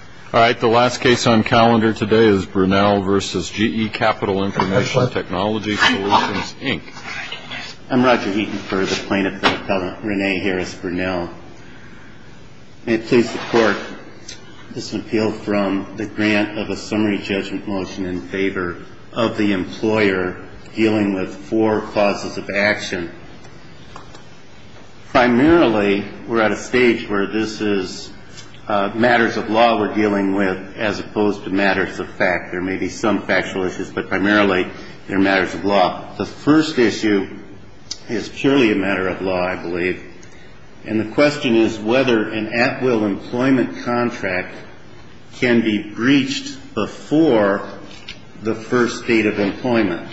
All right, the last case on calendar today is Brunelle v. GE Capital Information Technology Solutions, Inc. I'm Roger Eaton for the plaintiff, Rene Harris Brunelle. May it please the court, this appeal from the grant of a summary judgment motion in favor of the employer dealing with four clauses of action. Primarily, we're at a stage where this is matters of law we're dealing with as opposed to matters of fact. There may be some factual issues, but primarily they're matters of law. The first issue is purely a matter of law, I believe, and the question is whether an at-will employment contract can be breached before the first date of employment.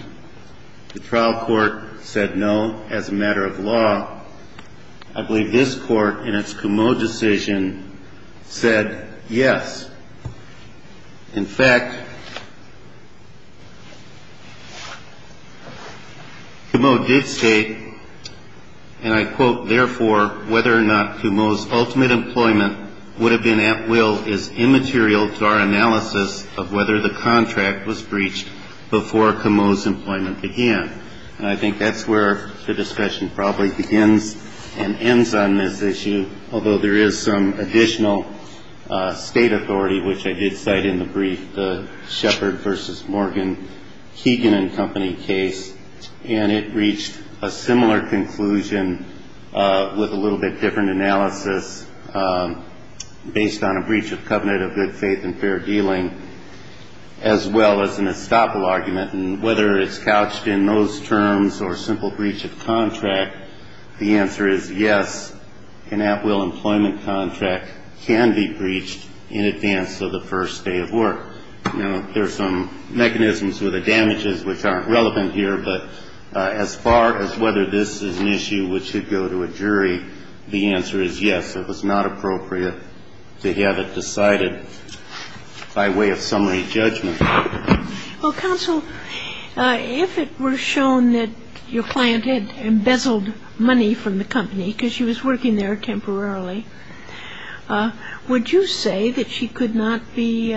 The trial court said no as a matter of law. I believe this court in its Comeau decision said yes. In fact, Comeau did state, and I quote, Therefore, whether or not Comeau's ultimate employment would have been at will is immaterial to our analysis of whether the contract was breached before Comeau's employment began. And I think that's where the discussion probably begins and ends on this issue, although there is some additional state authority, which I did cite in the brief, the Sheppard v. Morgan, Keegan & Company case, and it reached a similar conclusion with a little bit different analysis based on a breach of covenant of good faith and fair dealing, as well as an estoppel argument, and whether it's couched in those terms or a simple breach of contract, the answer is yes, an at-will employment contract can be breached in advance of the first day of work. Now, there are some mechanisms with the damages which aren't relevant here, but as far as whether this is an issue which should go to a jury, the answer is yes. It was not appropriate to have it decided by way of summary judgment. Well, counsel, if it were shown that your client had embezzled money from the company because she was working there temporarily, would you say that she could not be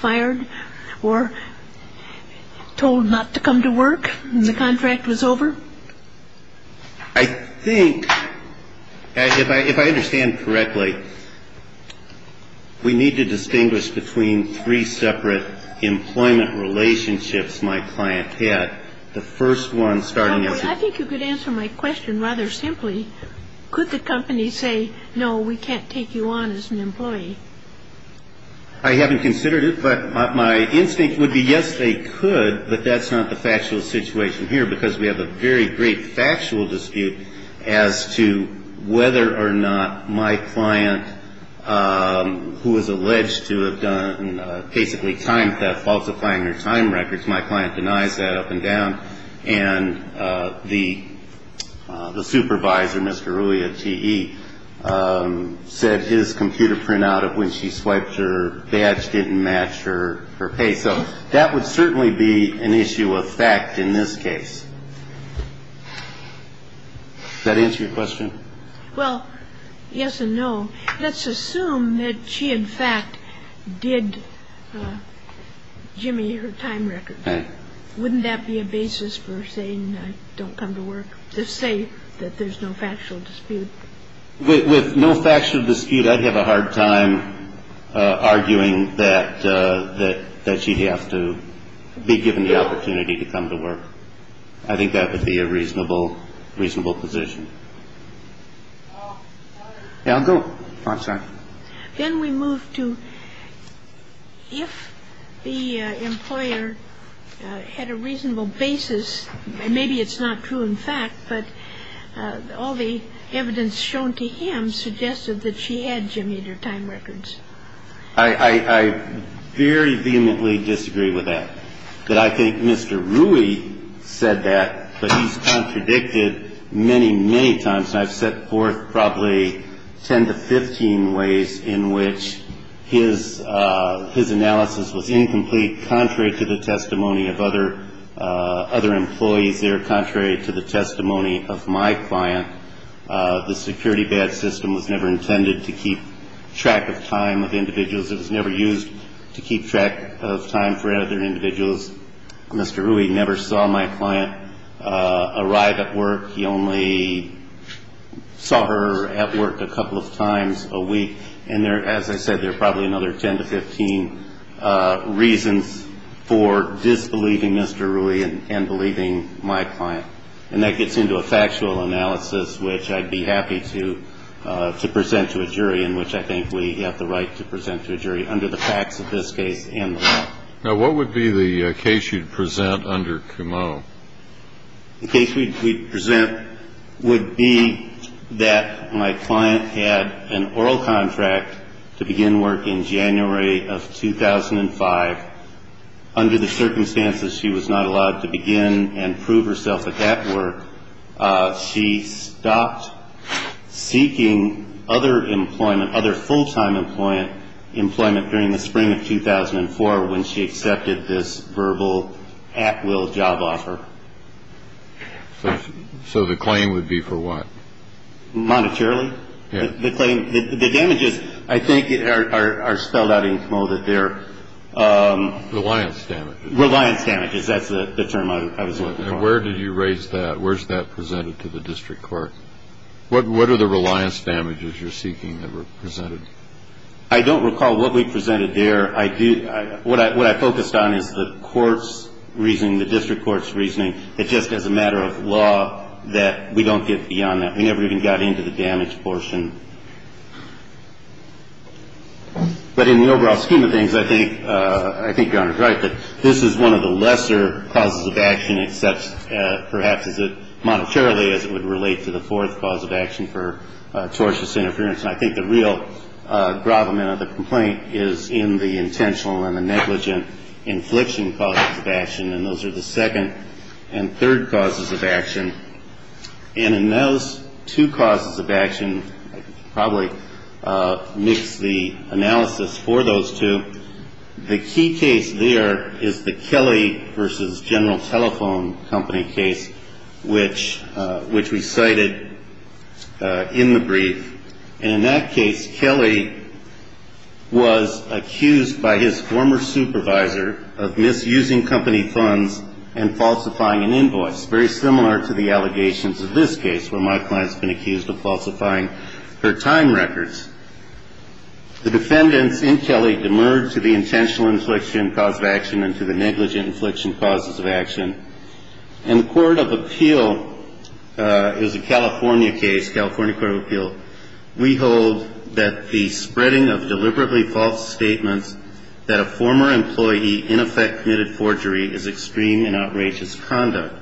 fired or told not to come to work when the contract was over? I think, if I understand correctly, we need to distinguish between three separate employment relationships my client had. The first one starting at the... I think you could answer my question rather simply. Could the company say, no, we can't take you on as an employee? I haven't considered it, but my instinct would be, yes, they could, but that's not the factual situation here because we have a very great factual dispute as to whether or not my client, who was alleged to have done basically time theft, falsifying her time records, my client denies that up and down, and the supervisor, Mr. Rullio, T.E., said his computer printout of when she swiped her badge didn't match her pay. So that would certainly be an issue of fact in this case. Does that answer your question? Well, yes and no. Let's assume that she, in fact, did jimmy her time record. Wouldn't that be a basis for saying I don't come to work, to say that there's no factual dispute? With no factual dispute, I'd have a hard time arguing that she'd have to be given the opportunity to come to work. I think that would be a reasonable position. Then we move to if the employer had a reasonable basis, maybe it's not true in fact, but all the evidence shown to him suggested that she had jimmyed her time records. I very vehemently disagree with that, that I think Mr. Rui said that, but he's contradicted many, many times, and I've set forth probably 10 to 15 ways in which his analysis was incomplete, contrary to the testimony of other employees there, contrary to the testimony of my client. The security badge system was never intended to keep track of time of individuals. It was never used to keep track of time for other individuals. Mr. Rui never saw my client arrive at work. He only saw her at work a couple of times a week. And as I said, there are probably another 10 to 15 reasons for disbelieving Mr. Rui and believing my client. And that gets into a factual analysis, which I'd be happy to present to a jury, in which I think we have the right to present to a jury under the facts of this case and the law. Now, what would be the case you'd present under Cumeau? The case we'd present would be that my client had an oral contract to begin work in January of 2005. Under the circumstances, she was not allowed to begin and prove herself at that work. She stopped seeking other employment, other full-time employment during the spring of 2004 when she accepted this verbal at-will job offer. So the claim would be for what? Monetarily. The damages, I think, are spelled out in Cumeau that they're... Reliance damages. Reliance damages. That's the term I was looking for. And where did you raise that? Where's that presented to the district court? What are the reliance damages you're seeking that were presented? I don't recall what we presented there. What I focused on is the court's reasoning, the district court's reasoning, that just as a matter of law, that we don't get beyond that. We never even got into the damage portion. But in the overall scheme of things, I think Your Honor is right, that this is one of the lesser causes of action, except perhaps monetarily, as it would relate to the fourth cause of action for tortious interference. And I think the real gravamen of the complaint is in the intentional and the negligent infliction causes of action. And those are the second and third causes of action. And in those two causes of action, I could probably mix the analysis for those two. The key case there is the Kelly v. General Telephone Company case, which we cited in the brief. And in that case, Kelly was accused by his former supervisor of misusing company funds and falsifying an invoice, very similar to the allegations of this case, where my client's been accused of falsifying her time records. The defendants in Kelly demurred to the intentional infliction cause of action and to the negligent infliction causes of action. In the court of appeal, it was a California case, California court of appeal, we hold that the spreading of deliberately false statements that a former employee in effect committed forgery is extreme and outrageous conduct.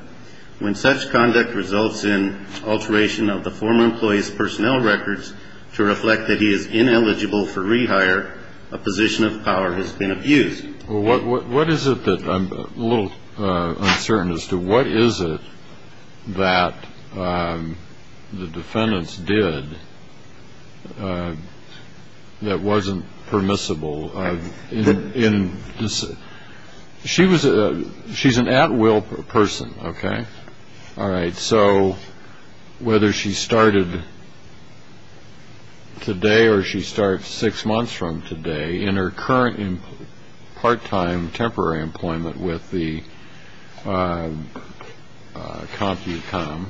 When such conduct results in alteration of the former employee's personnel records to reflect that he is ineligible for rehire, a position of power has been abused. What is it that I'm a little uncertain as to what is it that the defendants did that wasn't permissible? She's an at-will person, okay? All right, so whether she started today or she starts six months from today, in her current part-time temporary employment with the CompuCom,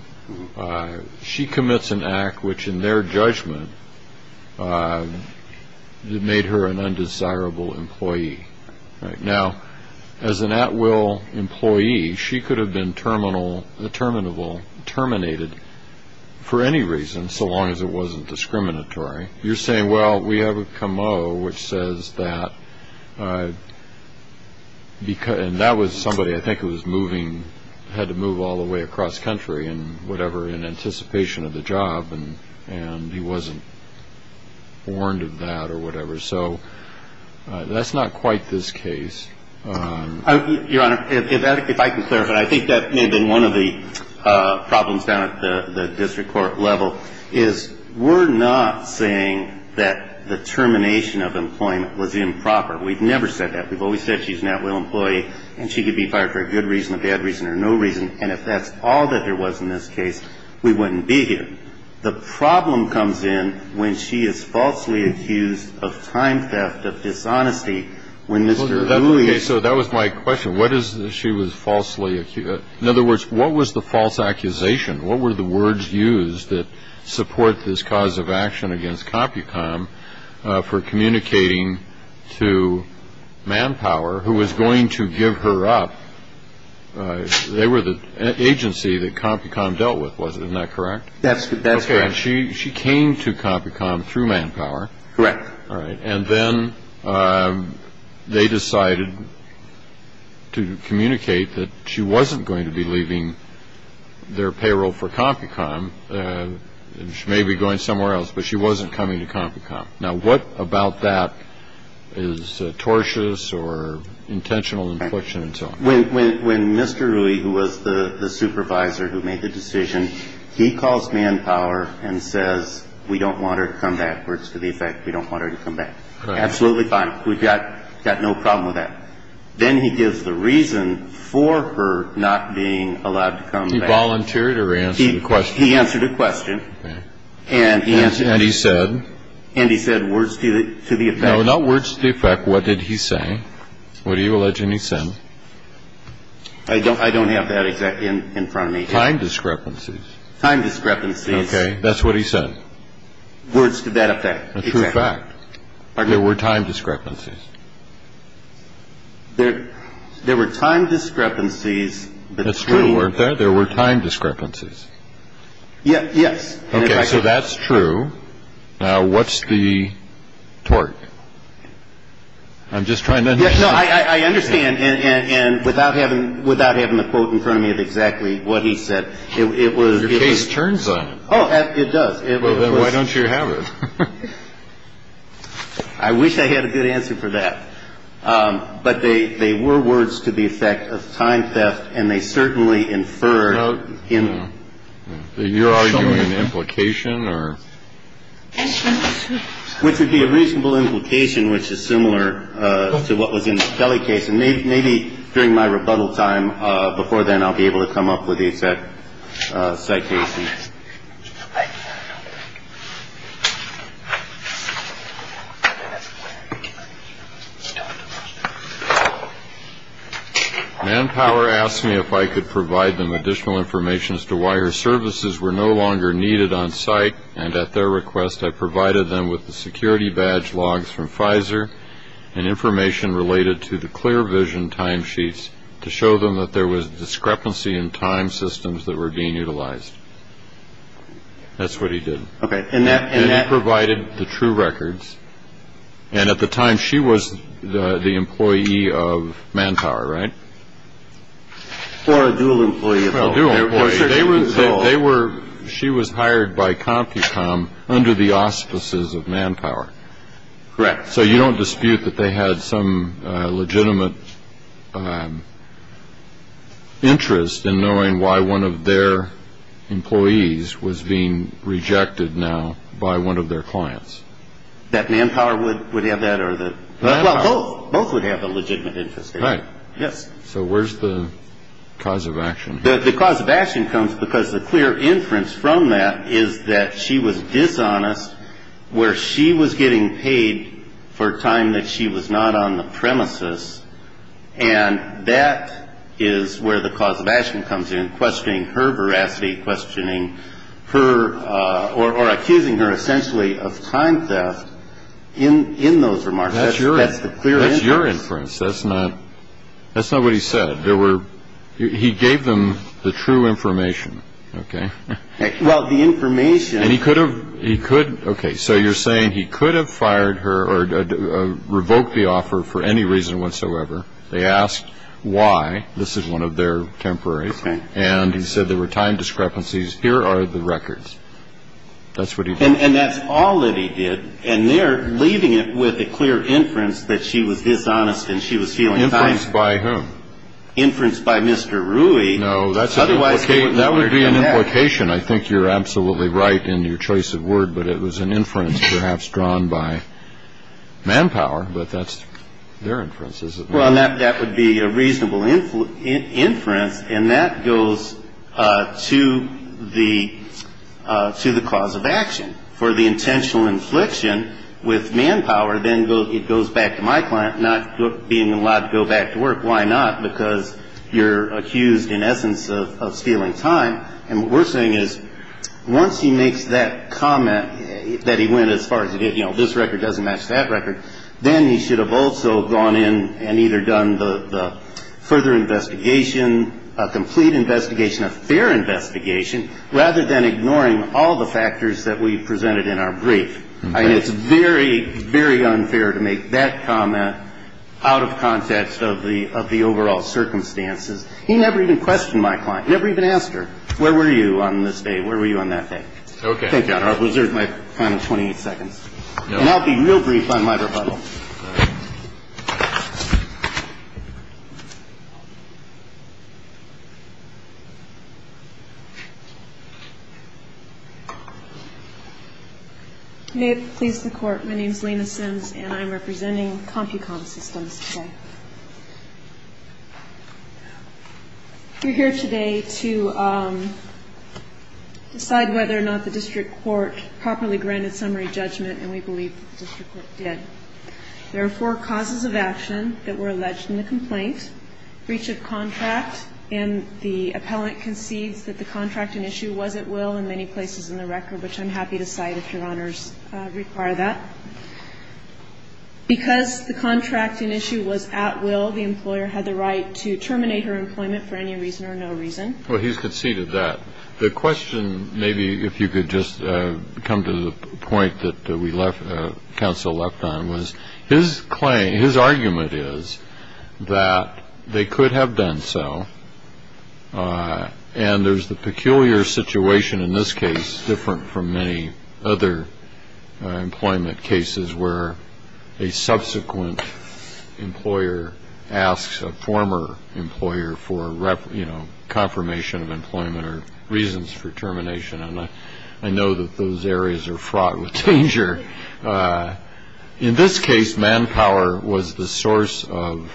she commits an act which in their judgment made her an undesirable employee. Now, as an at-will employee, she could have been terminable, terminated for any reason, so long as it wasn't discriminatory. You're saying, well, we have a comeo which says that, and that was somebody I think who was moving, had to move all the way across country and whatever in anticipation of the job, and he wasn't warned of that or whatever. So that's not quite this case. Your Honor, if I can clarify, I think that may have been one of the problems down at the district court level, is we're not saying that the termination of employment was improper. We've never said that. We've always said she's an at-will employee and she could be fired for a good reason, a bad reason, or no reason, and if that's all that there was in this case, we wouldn't be here. The problem comes in when she is falsely accused of time theft, of dishonesty. So that was my question. What is she was falsely accused? In other words, what was the false accusation? What were the words used that support this cause of action against Compucom for communicating to Manpower, who was going to give her up? They were the agency that Compucom dealt with, wasn't that correct? That's correct. She came to Compucom through Manpower. Correct. And then they decided to communicate that she wasn't going to be leaving their payroll for Compucom. She may be going somewhere else, but she wasn't coming to Compucom. Now, what about that is tortious or intentional infliction and so on? When Mr. Rui, who was the supervisor who made the decision, he calls Manpower and says, we don't want her to come back, words to the effect, we don't want her to come back. Correct. Absolutely fine. We've got no problem with that. Then he gives the reason for her not being allowed to come back. Did he volunteer to answer the question? He answered a question. And he answered it. And he said? And he said, words to the effect. No, not words to the effect. What did he say? I don't have that exact in front of me. Time discrepancies. Time discrepancies. Okay. That's what he said. Words to that effect. A true fact. There were time discrepancies. There were time discrepancies between. That's true, weren't there? There were time discrepancies. Yes. Yes. Okay. So that's true. Now, what's the tort? I'm just trying to understand. No, I understand. And without having the quote in front of me of exactly what he said, it was. Your case turns on it. Oh, it does. Well, then why don't you have it? I wish I had a good answer for that. But they were words to the effect of time theft, and they certainly inferred. You're arguing an implication or. Which would be a reasonable implication, which is similar to what was in the Kelly case. And maybe maybe during my rebuttal time before then, I'll be able to come up with a set citation. I don't know. Manpower asked me if I could provide them additional information as to why her services were no longer needed on site. And at their request, I provided them with the security badge logs from Pfizer and information related to the clear vision time sheets to show them that there was discrepancy in time systems that were being utilized. That's what he did. And that provided the true records. And at the time, she was the employee of manpower. Right. For a dual employee. They were. They were. She was hired by CompuCom under the auspices of manpower. Correct. So you don't dispute that they had some legitimate interest in knowing why one of their employees was being rejected now by one of their clients? That manpower would have that or the. Well, both. Both would have a legitimate interest. Right. Yes. So where's the cause of action? The cause of action comes because the clear inference from that is that she was dishonest, where she was getting paid for time that she was not on the premises. And that is where the cause of action comes in, questioning her veracity, questioning her or accusing her essentially of time theft in those remarks. That's the clear inference. That's your inference. That's not what he said. He gave them the true information. OK. Well, the information. And he could have. He could. OK, so you're saying he could have fired her or revoked the offer for any reason whatsoever. They asked why. This is one of their temporary. And he said there were time discrepancies. Here are the records. That's what he said. And that's all that he did. And they're leaving it with a clear inference that she was dishonest and she was feeling. By who? Inference by Mr. Rui. No, that's otherwise. OK. That would be an implication. I think you're absolutely right in your choice of word. But it was an inference perhaps drawn by manpower. But that's their inferences. Well, that that would be a reasonable influence inference. And that goes to the to the cause of action for the intentional infliction with manpower. Then it goes back to my client not being allowed to go back to work. Why not? Because you're accused in essence of stealing time. And we're saying is once he makes that comment that he went as far as, you know, this record doesn't match that record. Then he should have also gone in and either done the further investigation, a complete investigation, a fair investigation, rather than ignoring all the factors that we presented in our brief. I mean, it's very, very unfair to make that comment out of context of the of the overall circumstances. He never even questioned my client. Never even asked her. Where were you on this day? Where were you on that day? OK. Thank you, Your Honor. I'll reserve my final 28 seconds. And I'll be real brief on my rebuttal. May it please the Court. My name is Lena Sims and I'm representing CompuCom Systems. We're here today to decide whether or not the district court properly granted summary judgment, and we believe the district court did. There are four causes of action that were alleged in the complaint, breach of contract, and the appellant concedes that the contracting issue was at will in many places in the record, which I'm happy to cite if Your Honors require that. Because the contracting issue was at will, the employer had the right to terminate her employment for any reason or no reason. Well, he's conceded that. The question, maybe if you could just come to the point that we left counsel left on, was his claim, his argument is that they could have done so. And there's the peculiar situation in this case, different from many other employment cases, where a subsequent employer asks a former employer for, you know, confirmation of employment or reasons for termination. And I know that those areas are fraught with danger. In this case, manpower was the source of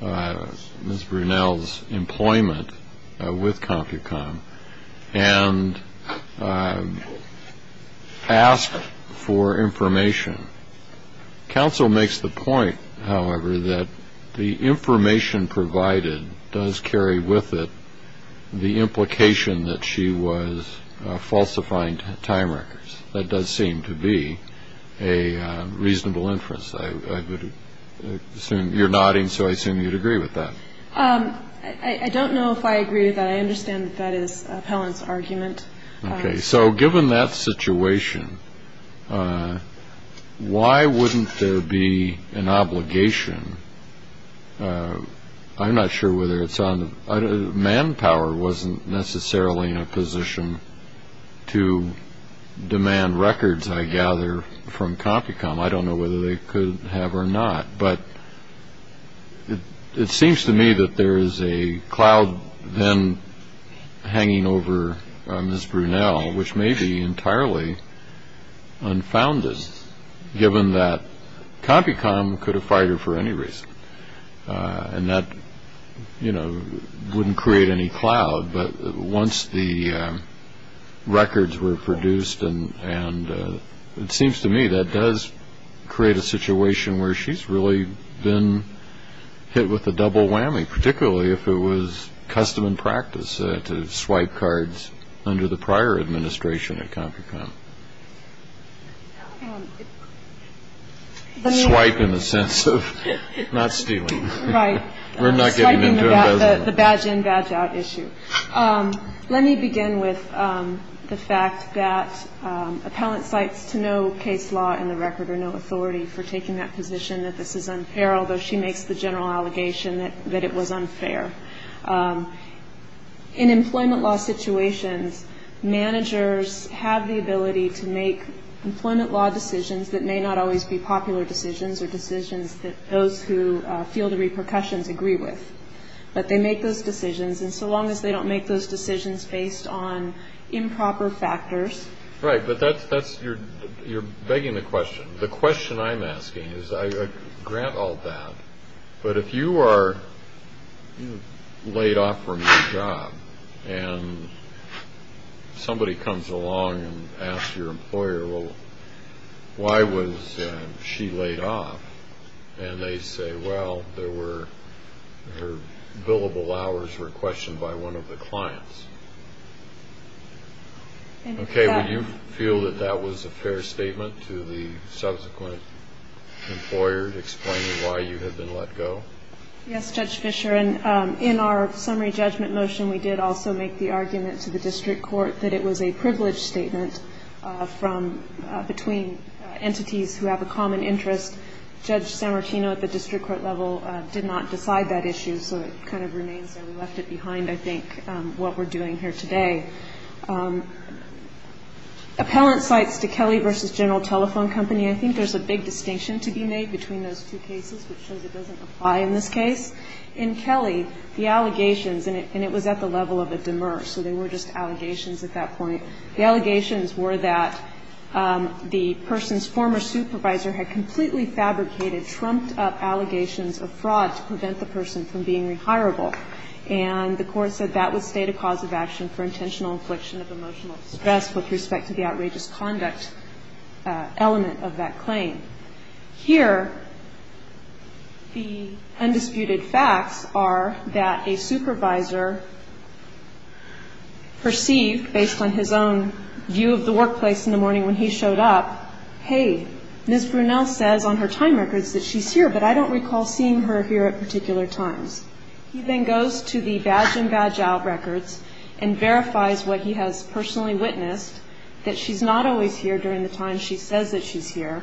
Ms. Brunel's employment with CompuCom and asked for information. Counsel makes the point, however, that the information provided does carry with it the implication that she was falsifying time records. That does seem to be a reasonable inference. I would assume you're nodding, so I assume you'd agree with that. I don't know if I agree with that. I understand that that is an appellant's argument. Okay. So given that situation, why wouldn't there be an obligation? I'm not sure whether it's on – manpower wasn't necessarily in a position to demand records, I gather, from CompuCom. I don't know whether they could have or not. But it seems to me that there is a cloud then hanging over Ms. Brunel, which may be entirely unfounded, given that CompuCom could have fired her for any reason. And that, you know, wouldn't create any cloud. But once the records were produced, and it seems to me that does create a situation where she's really been hit with a double whammy, particularly if it was custom and practice to swipe cards under the prior administration at CompuCom. Swipe in the sense of not stealing. Right. We're not getting into embezzlement. Swiping the badge in, badge out issue. Let me begin with the fact that appellant cites to no case law in the record or no authority for taking that position, that this is unfair, although she makes the general allegation that it was unfair. In employment law situations, managers have the ability to make employment law decisions that may not always be popular decisions or decisions that those who feel the repercussions agree with. But they make those decisions. And so long as they don't make those decisions based on improper factors. Right. But that's – you're begging the question. The question I'm asking is, I grant all that, but if you are laid off from your job, and somebody comes along and asks your employer, well, why was she laid off? And they say, well, there were her billable hours were questioned by one of the clients. Okay. Would you feel that that was a fair statement to the subsequent employer to explain why you had been let go? Yes, Judge Fischer. And in our summary judgment motion, we did also make the argument to the district court that it was a privileged statement from – between entities who have a common interest. Judge Sammartino at the district court level did not decide that issue, so it kind of remains there. Left it behind, I think, what we're doing here today. Appellant sites to Kelly v. General Telephone Company, I think there's a big distinction to be made between those two cases, which shows it doesn't apply in this case. In Kelly, the allegations – and it was at the level of a demur, so they were just allegations at that point. The allegations were that the person's former supervisor had completely fabricated, trumped up allegations of fraud to prevent the person from being rehirable. And the court said that would state a cause of action for intentional infliction of emotional distress with respect to the outrageous conduct element of that claim. Here, the undisputed facts are that a supervisor perceived, based on his own view of the workplace in the morning when he showed up, hey, Ms. Brunel says on her time records that she's here, but I don't recall seeing her here at particular times. He then goes to the badge-in-badge-out records and verifies what he has personally witnessed, that she's not always here during the time she says that she's here,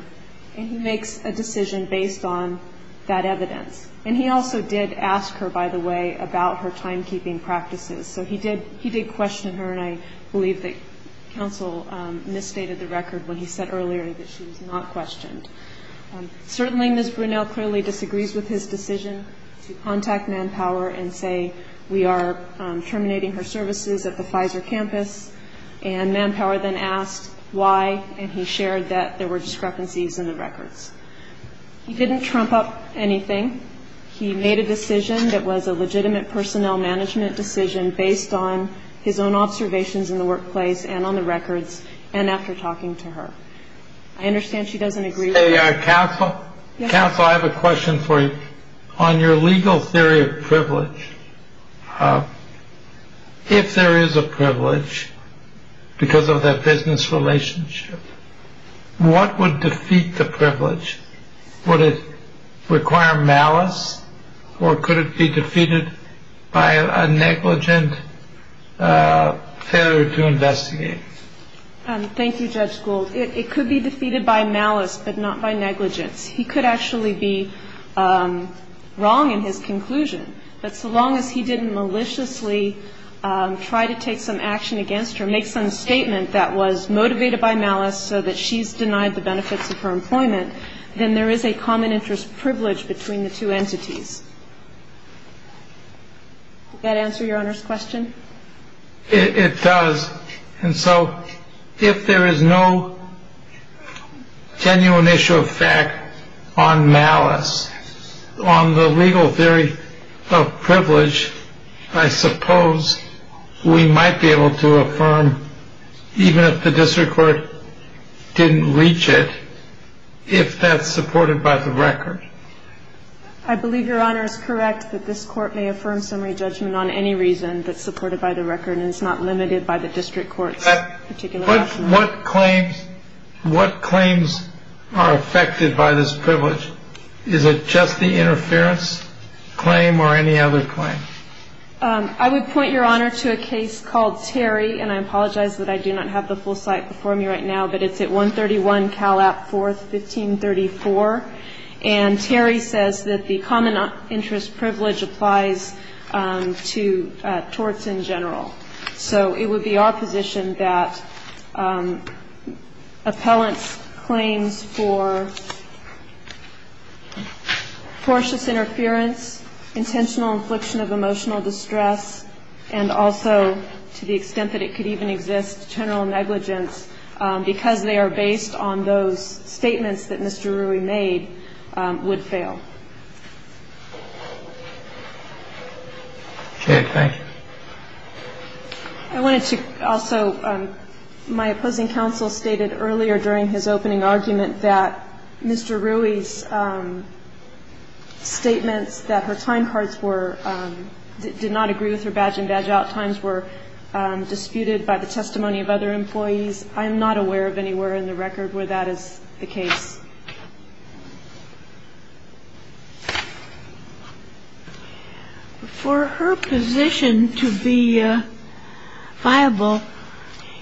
and he makes a decision based on that evidence. And he also did ask her, by the way, about her timekeeping practices. So he did question her, and I believe that counsel misstated the record when he said earlier that she was not questioned. Certainly, Ms. Brunel clearly disagrees with his decision to contact Manpower and say we are terminating her services at the Pfizer campus. And Manpower then asked why, and he shared that there were discrepancies in the records. He didn't trump up anything. He made a decision that was a legitimate personnel management decision based on his own observations in the workplace and on the records and after talking to her. I understand she doesn't agree. Counsel, I have a question for you. On your legal theory of privilege, if there is a privilege because of that business relationship, what would defeat the privilege? Would it require malice, or could it be defeated by a negligent failure to investigate? Thank you, Judge Gould. It could be defeated by malice, but not by negligence. He could actually be wrong in his conclusion. But so long as he didn't maliciously try to take some action against her, make some statement that was motivated by malice so that she's denied the benefits of her employment, then there is a common interest privilege between the two entities. Does that answer Your Honor's question? It does. And so if there is no genuine issue of fact on malice, on the legal theory of privilege, I suppose we might be able to affirm, even if the district court didn't reach it, if that's supported by the record. I believe Your Honor is correct that this Court may affirm summary judgment on any reason that's supported by the record and is not limited by the district court's particular option. What claims are affected by this privilege? Is it just the interference claim or any other claim? I would point, Your Honor, to a case called Terry, and I apologize that I do not have the full site before me right now, but it's at 131 Cal. App. 4th, 1534. And Terry says that the common interest privilege applies to torts in general. So it would be our position that appellants' claims for tortious interference, intentional infliction of emotional distress, and also, to the extent that it could even exist, general negligence, because they are based on those statements that Mr. Rui made, would fail. Okay. Thank you. I wanted to also, my opposing counsel stated earlier during his opening argument that Mr. Rui's statements that her time cards were, did not agree with her badge-in-badge-out times were disputed by the testimony of other employees. I am not aware of anywhere in the record where that is the case. For her position to be viable,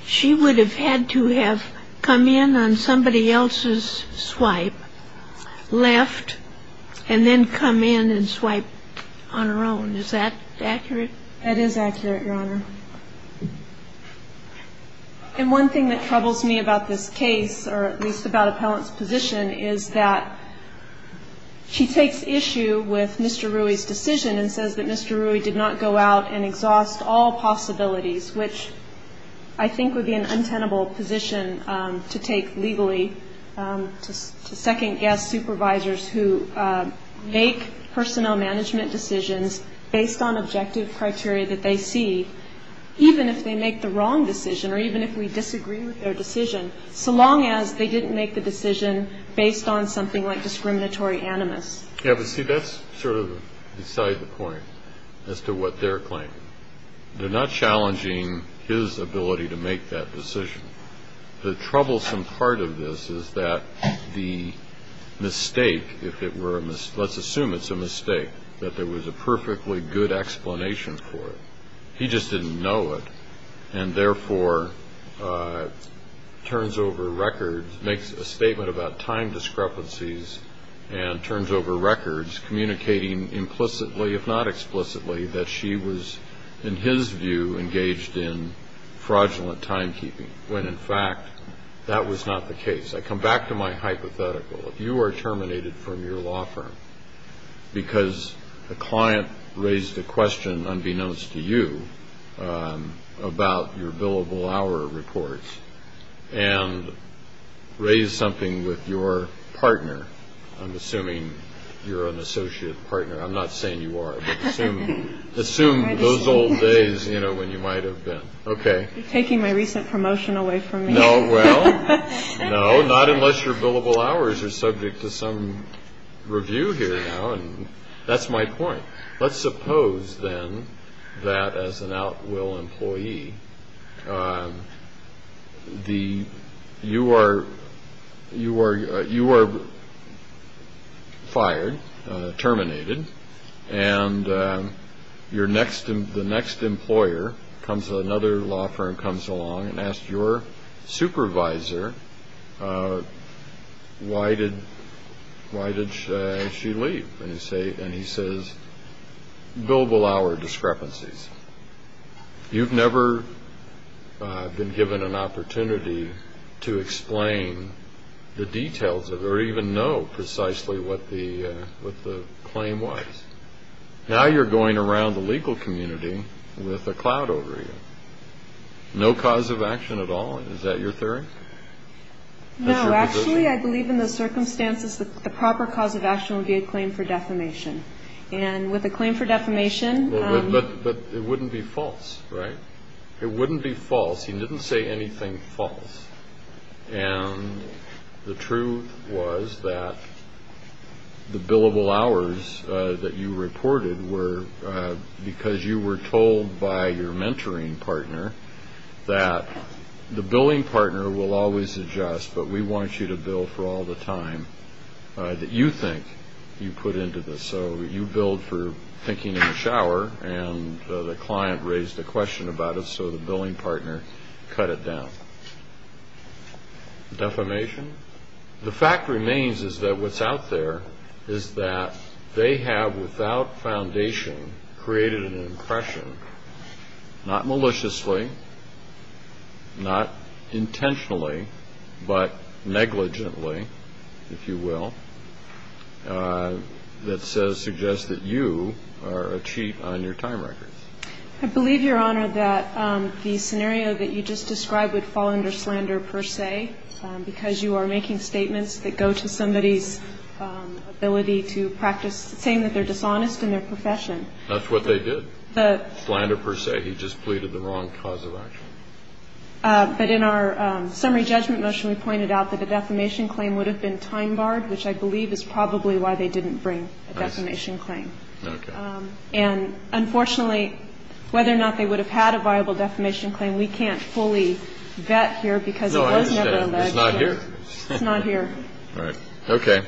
she would have had to have come in on somebody else's swipe, left, and then come in and swipe on her own. Is that accurate? That is accurate, Your Honor. And one thing that troubles me about this case, or at least about appellant's position, is that she takes issue with Mr. Rui's decision and says that Mr. Rui did not go out and exhaust all possibilities, which I think would be an untenable position to take legally to second-guess supervisors who make personnel management decisions based on objective criteria that they see, even if they make the wrong decision or even if we disagree with their decision, so long as they didn't make the decision based on something like discriminatory animus. Yeah, but see, that's sort of beside the point as to what they're claiming. They're not challenging his ability to make that decision. The troublesome part of this is that the mistake, if it were a mistake, let's assume it's a mistake, that there was a perfectly good explanation for it. He just didn't know it, and therefore turns over records, makes a statement about time discrepancies, and turns over records communicating implicitly, if not explicitly, that she was, in his view, engaged in fraudulent timekeeping, when, in fact, that was not the case. I come back to my hypothetical. If you are terminated from your law firm because a client raised a question, unbeknownst to you, about your billable hour reports, and raised something with your partner, I'm assuming you're an associate partner. I'm not saying you are, but assume those old days when you might have been. Okay. You're taking my recent promotion away from me. No, well, no, not unless your billable hours are subject to some review here now, and that's my point. Let's suppose, then, that as an outwill employee, you are fired, terminated, and the next employer, another law firm comes along and asks your supervisor, why did she leave? And he says, billable hour discrepancies. You've never been given an opportunity to explain the details of it, or even know precisely what the claim was. Now you're going around the legal community with a cloud over you. No cause of action at all? Is that your theory? No. Actually, I believe in those circumstances, the proper cause of action would be a claim for defamation. And with a claim for defamation. But it wouldn't be false, right? It wouldn't be false. He didn't say anything false. And the truth was that the billable hours that you reported were because you were told by your mentoring partner that the billing partner will always adjust, but we want you to bill for all the time that you think you put into this. So you billed for thinking in the shower, and the client raised a question about it, so the billing partner cut it down. Defamation? The fact remains is that what's out there is that they have, without foundation, created an impression, not maliciously, not intentionally, but negligently, if you will, that suggests that you are a cheat on your time record. I believe, Your Honor, that the scenario that you just described would fall under slander per se, because you are making statements that go to somebody's ability to practice saying that they're dishonest in their profession. That's what they did. The ---- Slander per se. He just pleaded the wrong cause of action. But in our summary judgment motion, we pointed out that a defamation claim would have been time barred, which I believe is probably why they didn't bring a defamation claim. Okay. And unfortunately, whether or not they would have had a viable defamation claim, we can't fully vet here because it was never alleged. No, I understand. It's not here. It's not here. All right. Okay.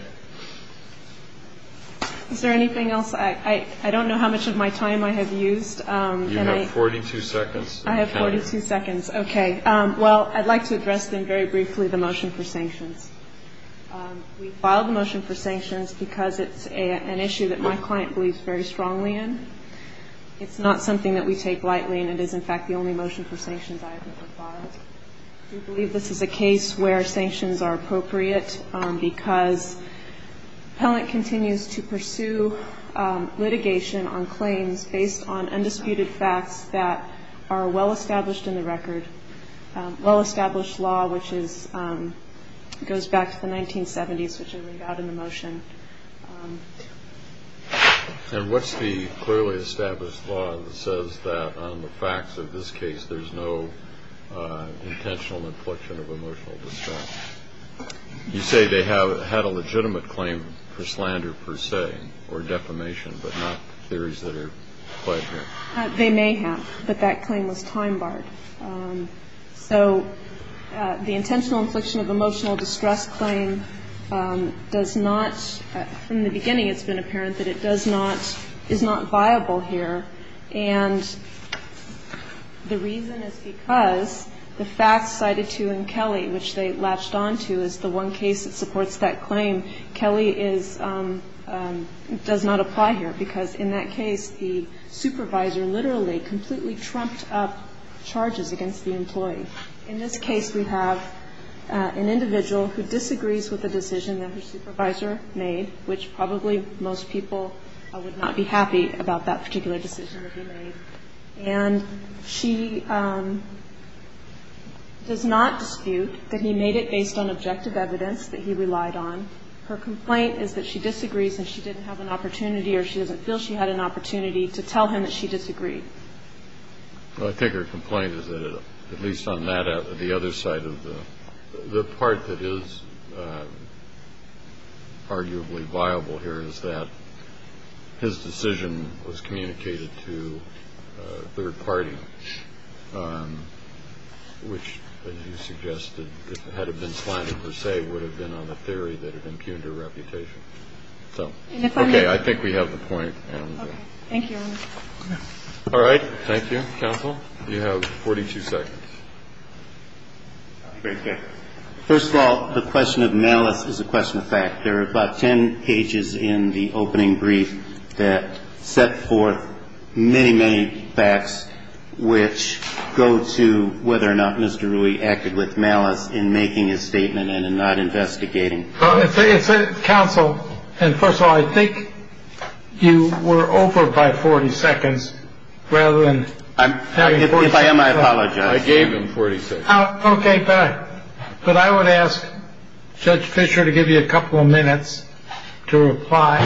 Is there anything else? I don't know how much of my time I have used. You have 42 seconds. I have 42 seconds. Okay. Well, I'd like to address then very briefly the motion for sanctions. We filed the motion for sanctions because it's an issue that my client believes very strongly in. It's not something that we take lightly, and it is, in fact, the only motion for sanctions I have ever filed. We believe this is a case where sanctions are appropriate because appellant continues to pursue litigation on claims based on undisputed facts that are well-established in the record, well-established law, which goes back to the 1970s, which are laid out in the motion. And what's the clearly established law that says that on the facts of this case, there's no intentional infliction of emotional distress? You say they had a legitimate claim for slander, per se, or defamation, but not theories that are quite here. They may have, but that claim was time-barred. So the intentional infliction of emotional distress claim does not, from the beginning it's been apparent that it does not, is not viable here. And the reason is because the facts cited to in Kelly, which they latched on to, is the one case that supports that claim. Kelly is, does not apply here because in that case, the supervisor literally completely trumped up charges against the employee. In this case, we have an individual who disagrees with a decision that her supervisor made, which probably most people would not be happy about that particular decision to be made. And she does not dispute that he made it based on objective evidence that he relied on. Her complaint is that she disagrees and she didn't have an opportunity or she doesn't feel she had an opportunity to tell him that she disagreed. Well, I think her complaint is that, at least on that, the other side of the, the part that is arguably viable here is that his decision was communicated to a third party, which, as you suggested, had it been planted per se, would have been on the theory that it impugned her reputation. So, okay. I think we have the point. Okay. Thank you, Your Honor. All right. Thank you, counsel. You have 42 seconds. First of all, the question of malice is a question of fact. There are about 10 pages in the opening brief that set forth many, many facts which go to whether or not Mr. Rui acted with malice in making his statement and in not investigating. It's a counsel. And first of all, I think you were over by 40 seconds rather than I am. I apologize. I gave him 46. Okay. But I would ask Judge Fisher to give you a couple of minutes to reply.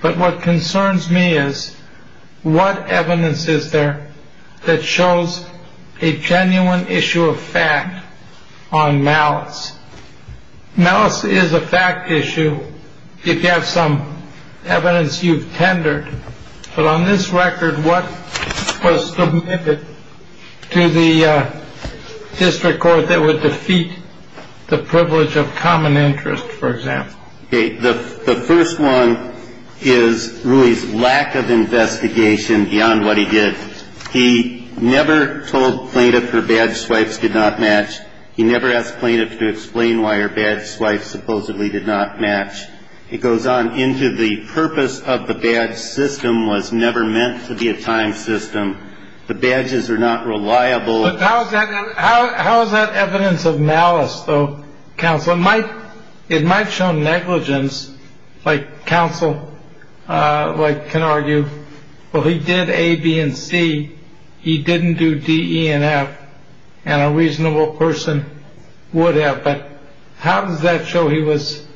But what concerns me is what evidence is there that shows a genuine issue of fact on malice? Malice is a fact issue. You have some evidence you've tendered. But on this record, what was submitted to the district court that would defeat the privilege of common interest, for example? Okay. The first one is Rui's lack of investigation beyond what he did. He never told plaintiffs her badge swipes did not match. He never asked plaintiffs to explain why her badge swipes supposedly did not match. It goes on into the purpose of the badge system was never meant to be a time system. The badges are not reliable. How is that evidence of malice, though? Counsel might it might show negligence like counsel like can argue. Well, he did A, B and C. He didn't do D, E and F and a reasonable person would have. But how does that show he was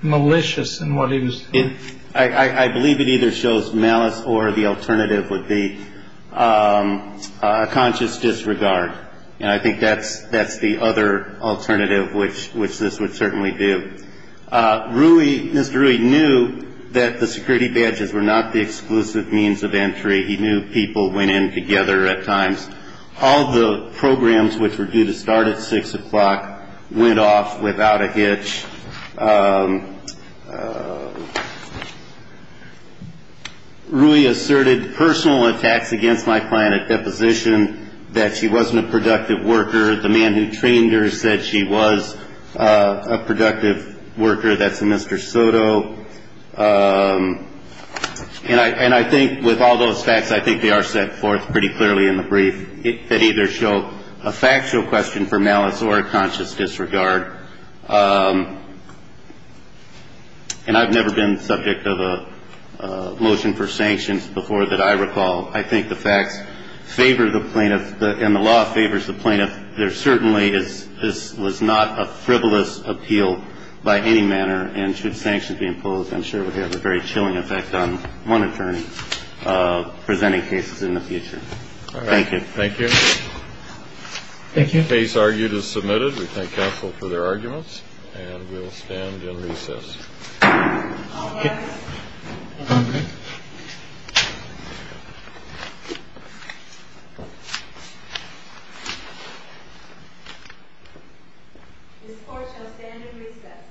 malicious in what he was? I believe it either shows malice or the alternative would be a conscious disregard. And I think that's that's the other alternative, which which this would certainly do. Rui, Mr. Rui knew that the security badges were not the exclusive means of entry. He knew people went in together at times. All the programs which were due to start at six o'clock went off without a hitch. Rui asserted personal attacks against my client at deposition that she wasn't a productive worker. The man who trained her said she was a productive worker. That's a Mr. Soto. So and I and I think with all those facts, I think they are set forth pretty clearly in the brief. It could either show a factual question for malice or a conscious disregard. And I've never been subject of a motion for sanctions before that I recall. I think the facts favor the plaintiff and the law favors the plaintiff. And there certainly is. This was not a frivolous appeal by any manner. And should sanctions be imposed, I'm sure it would have a very chilling effect on one attorney presenting cases in the future. Thank you. Thank you. Thank you. Case argued is submitted. We thank counsel for their arguments and we'll stand in recess. This court shall stand in recess.